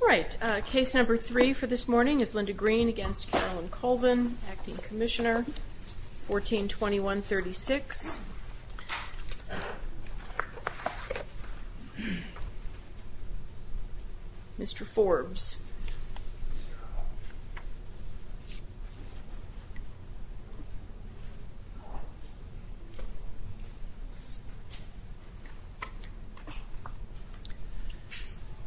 All right, case number three for this morning is Linda Green v. Carolyn Colvin, Acting Commissioner, 1421-36. Mr. Forbes.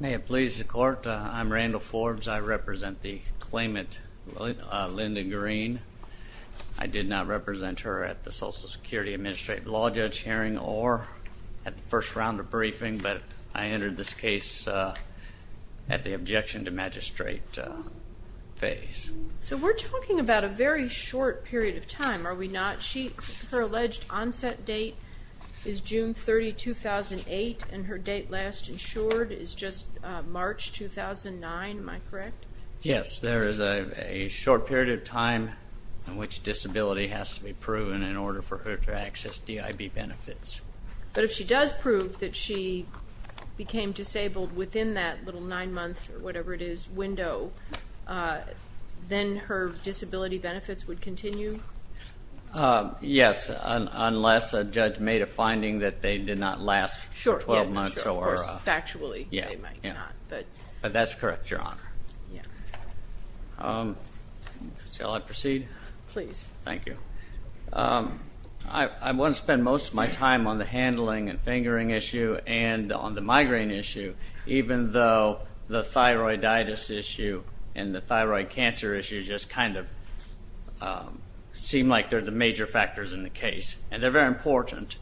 May it please the Court, I'm Randall Forbes. I represent the claimant, Linda Green. I did not represent her at the Social Security Administrative Law Judge hearing or at the first round of briefing, but I entered this case at the objection to her claim. So we're talking about a very short period of time, are we not? Her alleged onset date is June 30, 2008, and her date last insured is just March 2009, am I correct? Yes, there is a short period of time in which disability has to be proven in order for her to access DIB benefits. But if she does prove that she became disabled within that little nine-month or whatever it is window, then her disability benefits would continue? Yes, unless a judge made a finding that they did not last for 12 months. Sure, of course, factually they might not. But that's correct, Your Honor. Shall I proceed? Please. Thank you. I want to spend most of my time on the handling and fingering issue and on the migraine issue, even though the thyroiditis issue and the thyroid cancer issue just kind of seem like they're the major factors in the case. And they're very important.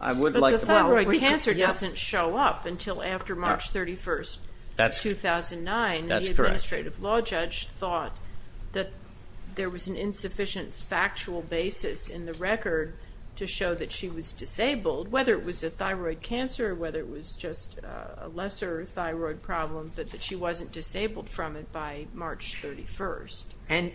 But the thyroid cancer doesn't show up until after March 31, 2009. That's correct. The administrative law judge thought that there was an insufficient factual basis in the record to show that she was disabled, whether it was a thyroid cancer or whether it was just a lesser thyroid problem, but that she wasn't disabled from it by March 31.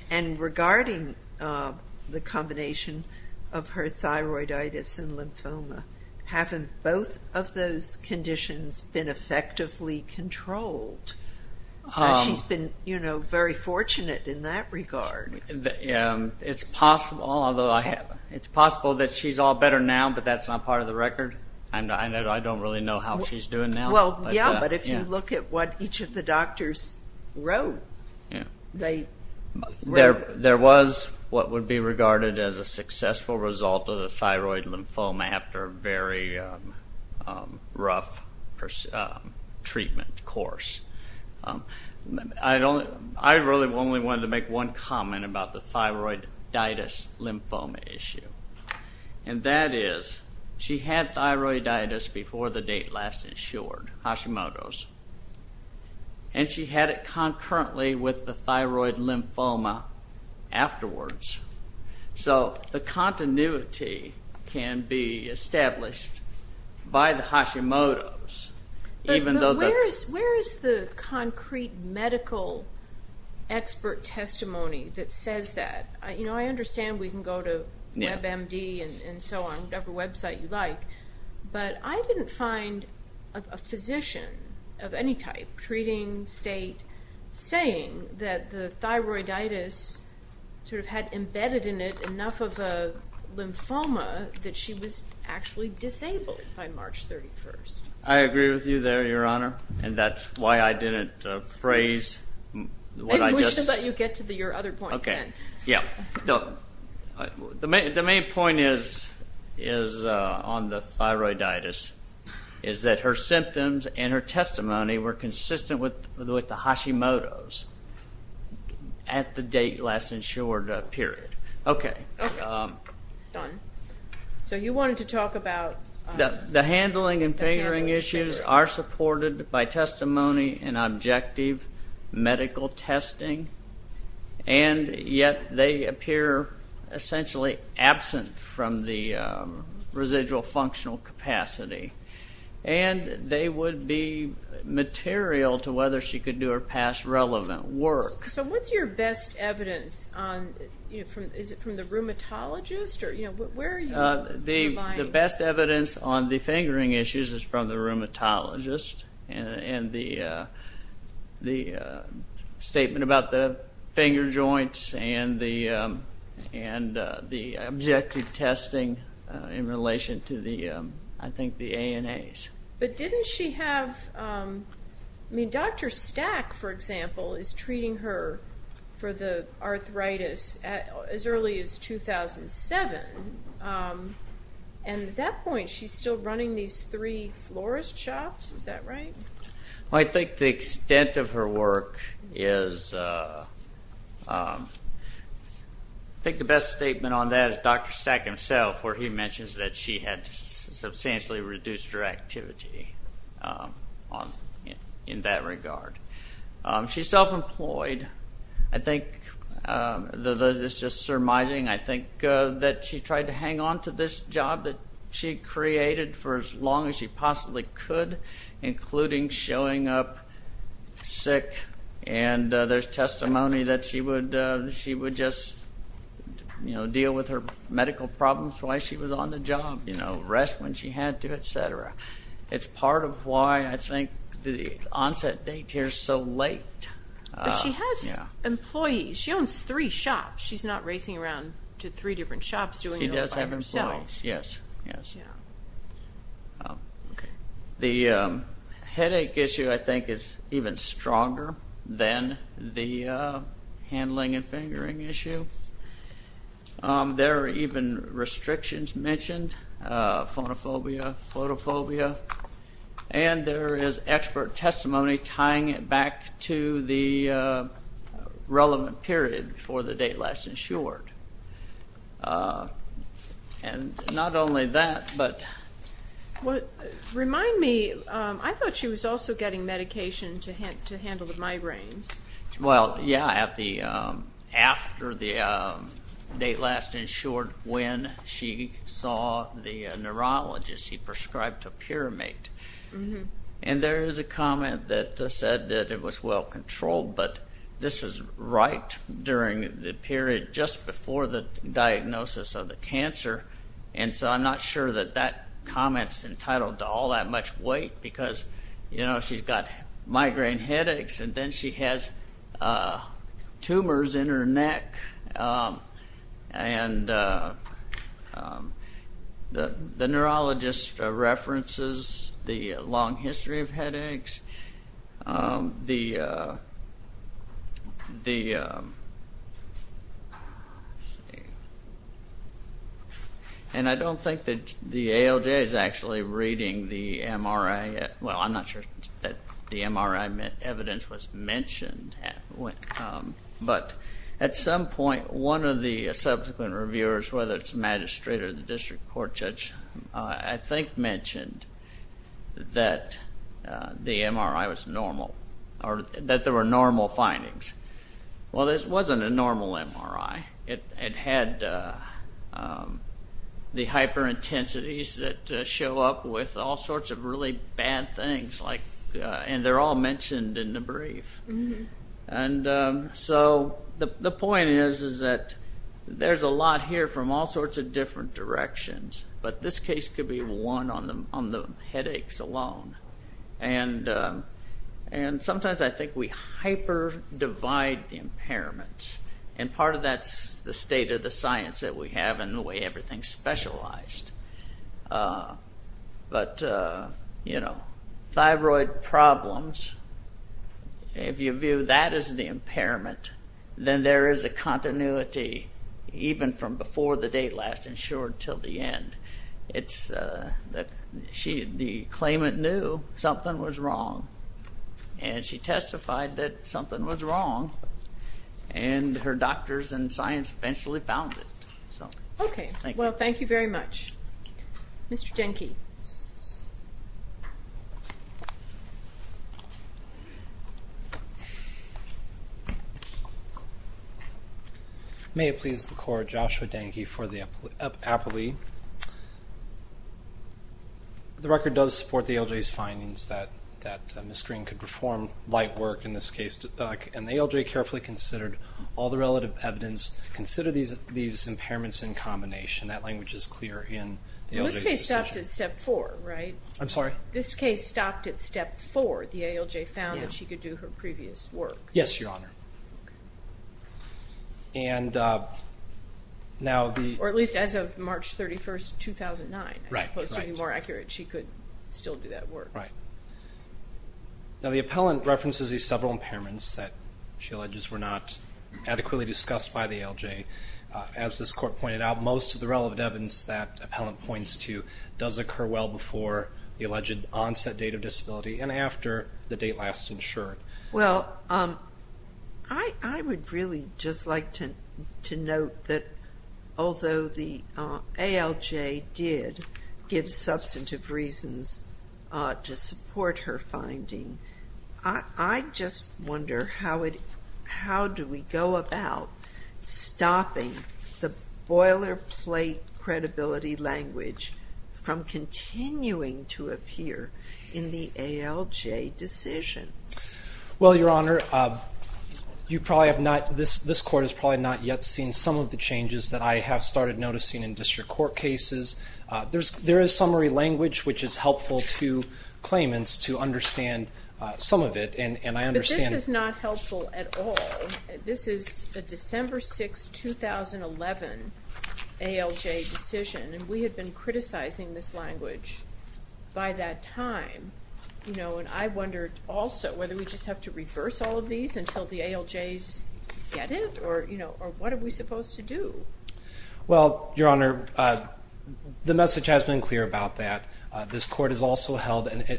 And regarding the combination of her thyroiditis and lymphoma, haven't both of those conditions been effectively controlled? She's been very fortunate in that regard. It's possible that she's all better now, but that's not part of the record. And I don't really know how she's doing now. Well, yeah, but if you look at what each of the doctors wrote, they… There was what would be regarded as a successful result of the thyroid lymphoma after a very rough treatment course. I really only wanted to make one comment about the thyroiditis lymphoma issue. And that is she had thyroiditis before the date last insured, Hashimoto's, and she had it concurrently with the thyroid lymphoma afterwards. So the continuity can be established by the Hashimoto's, even though the… But where is the concrete medical expert testimony that says that? You know, I understand we can go to WebMD and so on, whatever website you like. But I didn't find a physician of any type, treating, state, saying that the thyroiditis sort of had embedded in it enough of a lymphoma that she was actually disabled by March 31st. I agree with you there, Your Honor, and that's why I didn't phrase what I just… But you get to your other points then. Okay, yeah. The main point is on the thyroiditis, is that her symptoms and her testimony were consistent with the Hashimoto's at the date last insured period. Okay. Okay, done. So you wanted to talk about… The handling and figuring issues are supported by testimony and objective medical testing, and yet they appear essentially absent from the residual functional capacity. And they would be material to whether she could do her past relevant work. So what's your best evidence on… Is it from the rheumatologist? Where are you providing? The best evidence on the fingering issues is from the rheumatologist and the statement about the finger joints and the objective testing in relation to the, I think, the ANAs. But didn't she have… I mean, Dr. Stack, for example, is treating her for the arthritis as early as 2007, and at that point she's still running these three florist shops. Is that right? I think the extent of her work is… I think the best statement on that is Dr. Stack himself, where he mentions that she had substantially reduced her activity in that regard. She's self-employed. It's just surmising, I think, that she tried to hang on to this job that she created for as long as she possibly could, including showing up sick. And there's testimony that she would just deal with her medical problems while she was on the job, rest when she had to, et cetera. It's part of why I think the onset date here is so late. But she has employees. She owns three shops. She's not racing around to three different shops doing it all by herself. She does have employees, yes. The headache issue, I think, is even stronger than the handling and fingering issue. There are even restrictions mentioned, phonophobia, photophobia. And there is expert testimony tying it back to the relevant period before the date last insured. Not only that, but… Remind me, I thought she was also getting medication to handle the migraines. Well, yeah, after the date last insured, when she saw the neurologist. He prescribed a Pyramate. And there is a comment that said that it was well controlled. But this is right during the period just before the diagnosis of the cancer. And so I'm not sure that that comment's entitled to all that much weight because, you know, she's got migraine headaches. And then she has tumors in her neck. And the neurologist references the long history of headaches. And I don't think that the ALJ is actually reading the MRI. Well, I'm not sure that the MRI evidence was mentioned. But at some point, one of the subsequent reviewers, whether it's a magistrate or the district court judge, I think mentioned that the MRI was normal, or that there were normal findings. Well, this wasn't a normal MRI. It had the hyperintensities that show up with all sorts of really bad things. And they're all mentioned in the brief. And so the point is that there's a lot here from all sorts of different directions. But this case could be one on the headaches alone. And sometimes I think we hyper-divide the impairments. And part of that's the state of the science that we have and the way everything's specialized. But, you know, thyroid problems, if you view that as the impairment, then there is a continuity even from before the day last insured until the end. The claimant knew something was wrong. And she testified that something was wrong. And her doctors and science eventually found it. Okay. Well, thank you very much. Mr. Denke. May it please the Court, Joshua Denke for the appellee. The record does support the ALJ's findings that Ms. Green could perform light work in this case. And the ALJ carefully considered all the relative evidence, considered these impairments in combination. That language is clear in the ALJ's decision. Well, this case stops at step four, right? I'm sorry? This case stopped at step four. The ALJ found that she could do her previous work. Yes, Your Honor. Okay. Or at least as of March 31st, 2009. Right. As opposed to being more accurate, she could still do that work. Right. Now the appellant references these several impairments that she alleges were not adequately discussed by the ALJ. As this Court pointed out, most of the relevant evidence that the appellant points to does occur well before the alleged onset date of disability and after the date last insured. Well, I would really just like to note that although the ALJ did give substantive reasons to support her finding, I just wonder how do we go about stopping the boilerplate credibility language from continuing to appear in the ALJ decisions? Well, Your Honor, this Court has probably not yet seen some of the changes that I have started noticing in district court cases. There is summary language which is helpful to claimants to understand some of it. But this is not helpful at all. This is the December 6, 2011 ALJ decision, and we had been criticizing this language by that time. And I wondered also whether we just have to reverse all of these until the ALJs get it, or what are we supposed to do? Well, Your Honor, the message has been clear about that. This Court has also held that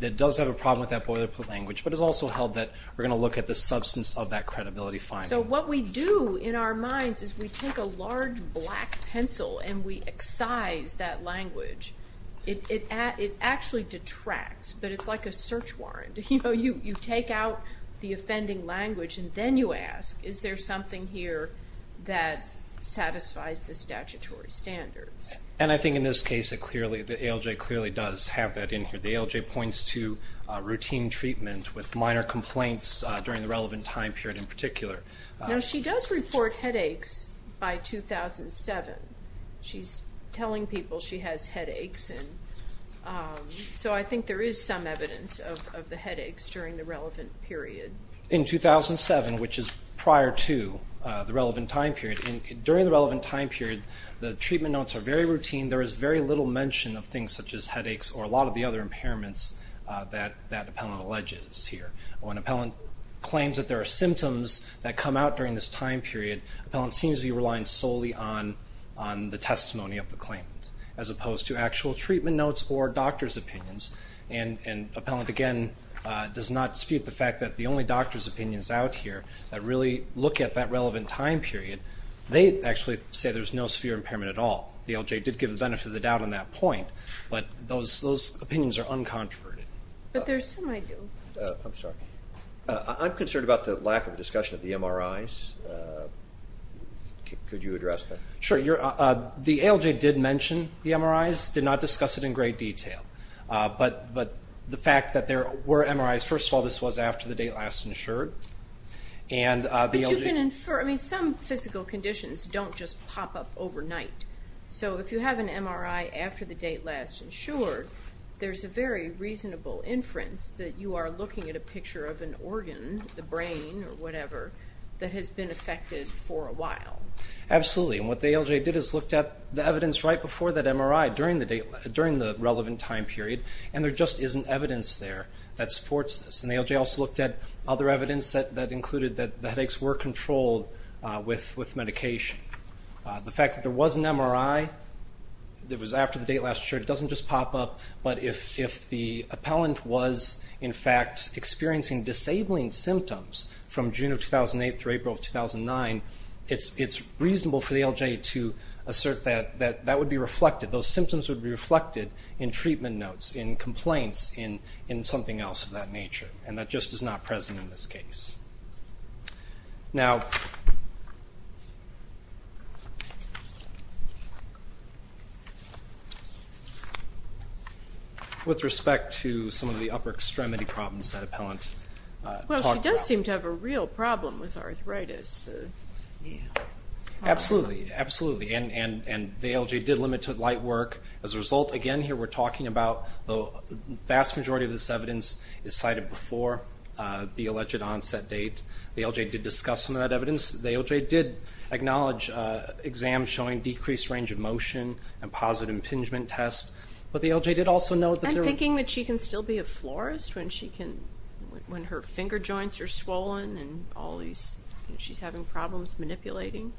it does have a problem with that boilerplate language, but it has also held that we're going to look at the substance of that credibility finding. So what we do in our minds is we take a large black pencil and we excise that language. It actually detracts, but it's like a search warrant. You know, you take out the offending language and then you ask, is there something here that satisfies the statutory standards? And I think in this case, the ALJ clearly does have that in here. The ALJ points to routine treatment with minor complaints during the relevant time period in particular. Now, she does report headaches by 2007. She's telling people she has headaches, and so I think there is some evidence of the headaches during the relevant period. In 2007, which is prior to the relevant time period, during the relevant time period the treatment notes are very routine. There is very little mention of things such as headaches or a lot of the other impairments that Appellant alleges here. When Appellant claims that there are symptoms that come out during this time period, Appellant seems to be relying solely on the testimony of the claimant as opposed to actual treatment notes or doctor's opinions. And Appellant, again, does not dispute the fact that the only doctor's opinions out here that really look at that relevant time period, they actually say there's no severe impairment at all. The ALJ did give the benefit of the doubt on that point, but those opinions are uncontroverted. I'm sorry. I'm concerned about the lack of discussion of the MRIs. Could you address that? Sure. The ALJ did mention the MRIs, did not discuss it in great detail. But the fact that there were MRIs, first of all, this was after the date last insured. But you can infer, I mean, some physical conditions don't just pop up overnight. So if you have an MRI after the date last insured, there's a very reasonable inference that you are looking at a picture of an organ, the brain or whatever, that has been affected for a while. Absolutely, and what the ALJ did is looked at the evidence right before that MRI, during the relevant time period, and there just isn't evidence there that supports this. And the ALJ also looked at other evidence that included that the headaches were controlled with medication. The fact that there was an MRI that was after the date last insured doesn't just pop up, but if the appellant was, in fact, experiencing disabling symptoms from June of 2008 through April of 2009, it's reasonable for the ALJ to assert that that would be reflected, those symptoms would be reflected in treatment notes, in complaints, in something else of that nature. And that just is not present in this case. Now, with respect to some of the upper extremity problems that appellant talked about. Well, she does seem to have a real problem with arthritis. Absolutely, absolutely, and the ALJ did limit to light work. As a result, again, here we're talking about the vast majority of this evidence is cited before the alleged onset date. The ALJ did discuss some of that evidence. The ALJ did acknowledge exams showing decreased range of motion and positive impingement tests, but the ALJ did also note that there were- And thinking that she can still be a florist when her finger joints are swollen and she's having problems manipulating?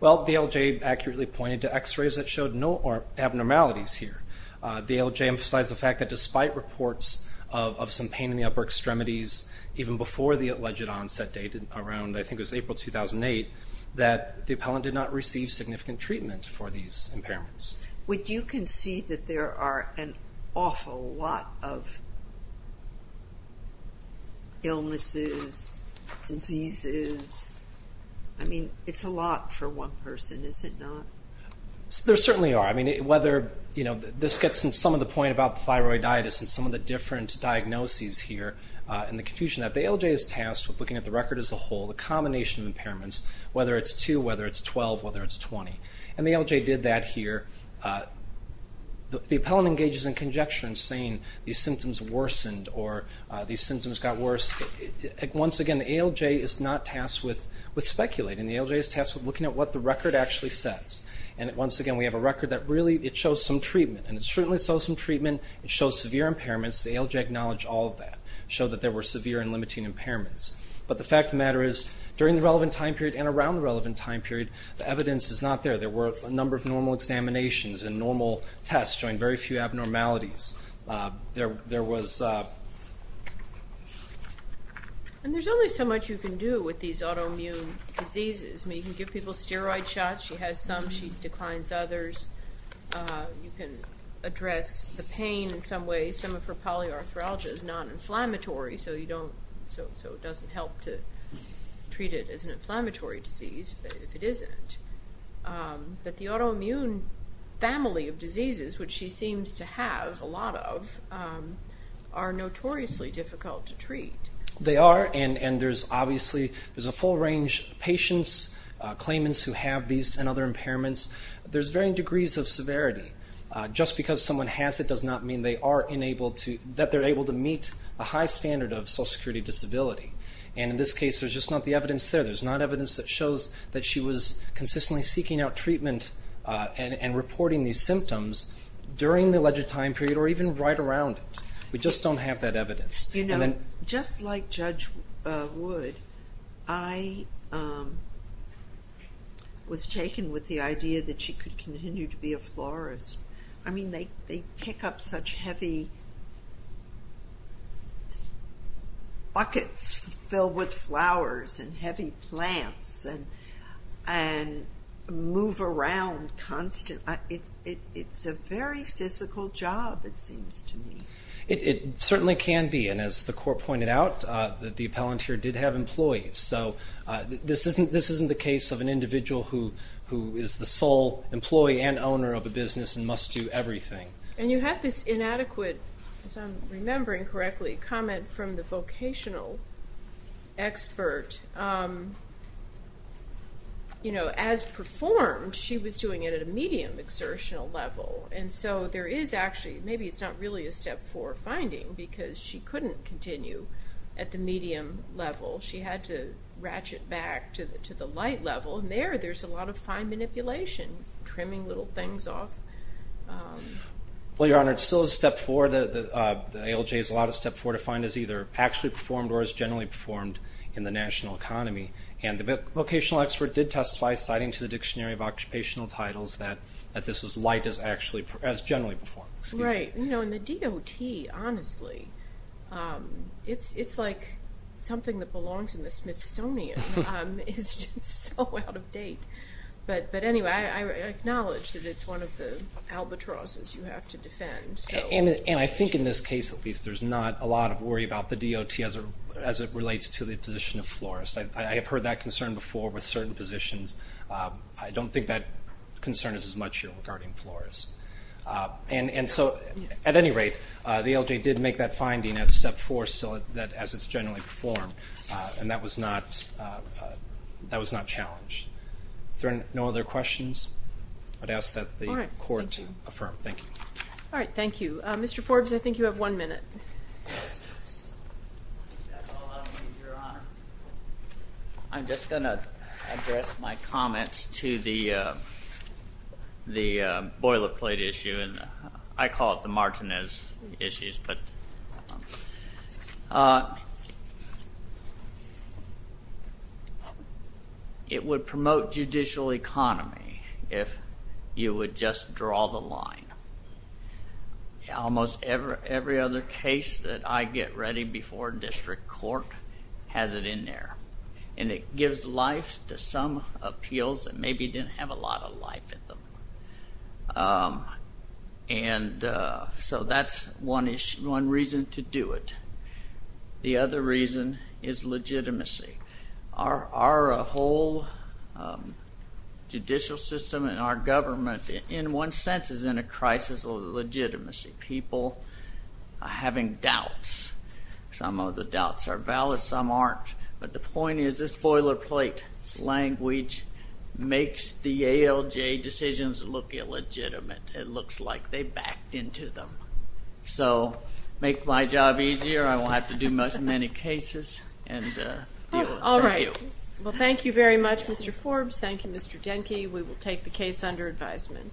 Well, the ALJ accurately pointed to x-rays that showed no abnormalities here. The ALJ emphasized the fact that despite reports of some pain in the upper extremities, even before the alleged onset date, around, I think it was April 2008, that the appellant did not receive significant treatment for these impairments. Would you concede that there are an awful lot of illnesses, diseases? I mean, it's a lot for one person, is it not? There certainly are. I mean, whether, you know, this gets in some of the point about thyroiditis and some of the different diagnoses here and the confusion that the ALJ is tasked with looking at the record as a whole, the combination of impairments, whether it's two, whether it's 12, whether it's 20. And the ALJ did that here. The appellant engages in conjecture in saying these symptoms worsened or these symptoms got worse. Once again, the ALJ is not tasked with speculating. The ALJ is tasked with looking at what the record actually says. And once again, we have a record that really it shows some treatment, and it certainly shows some treatment. It shows severe impairments. The ALJ acknowledged all of that. It showed that there were severe and limiting impairments. But the fact of the matter is, during the relevant time period and around the relevant time period, the evidence is not there. There were a number of normal examinations and normal tests showing very few abnormalities. There was... And there's only so much you can do with these autoimmune diseases. I mean, you can give people steroid shots. She has some. She declines others. You can address the pain in some way. Some of her polyarthralgia is non-inflammatory, so it doesn't help to treat it as an inflammatory disease if it isn't. But the autoimmune family of diseases, which she seems to have a lot of, are notoriously difficult to treat. They are, and there's obviously a full range of patients, claimants who have these and other impairments. There's varying degrees of severity. Just because someone has it does not mean they are able to meet a high standard of social security disability. And in this case, there's just not the evidence there. There's not evidence that shows that she was consistently seeking out treatment and reporting these symptoms during the alleged time period or even right around it. We just don't have that evidence. Just like Judge Wood, I was taken with the idea that she could continue to be a florist. I mean, they pick up such heavy buckets filled with flowers and heavy plants and move around constantly. It's a very physical job, it seems to me. It certainly can be, and as the court pointed out, the appellant here did have employees. So this isn't the case of an individual who is the sole employee and owner of a business and must do everything. And you had this inadequate, as I'm remembering correctly, comment from the vocational expert. As performed, she was doing it at a medium exertional level. And so there is actually, maybe it's not really a Step 4 finding because she couldn't continue at the medium level. She had to ratchet back to the light level. And there, there's a lot of fine manipulation, trimming little things off. Well, Your Honor, it's still a Step 4. The ALJ is allowed a Step 4 to find as either actually performed or as generally performed in the national economy. And the vocational expert did testify, citing to the Dictionary of Occupational Titles, that this was light as actually, as generally performed. Right. You know, and the DOT, honestly, it's like something that belongs in the Smithsonian. It's just so out of date. But anyway, I acknowledge that it's one of the albatrosses you have to defend. And I think in this case, at least, there's not a lot of worry about the DOT as it relates to the position of florist. I have heard that concern before with certain positions. I don't think that concern is as much regarding florists. And so, at any rate, the ALJ did make that finding at Step 4 as it's generally performed, and that was not challenged. Are there no other questions? I'd ask that the Court affirm. Thank you. All right. Thank you. Mr. Forbes, I think you have one minute. That's all I'll need, Your Honor. I'm just going to address my comments to the boilerplate issue, and I call it the Martinez issues. It would promote judicial economy if you would just draw the line. Almost every other case that I get ready before district court has it in there. And it gives life to some appeals that maybe didn't have a lot of life in them. And so that's one reason to do it. The other reason is legitimacy. Our whole judicial system and our government, in one sense, is in a crisis of legitimacy. People are having doubts. Some of the doubts are valid. Some aren't. But the point is this boilerplate language makes the ALJ decisions look illegitimate. It looks like they backed into them. So make my job easier. I won't have to do many cases. All right. Well, thank you very much, Mr. Forbes. Thank you, Mr. Denke. We will take the case under advisement.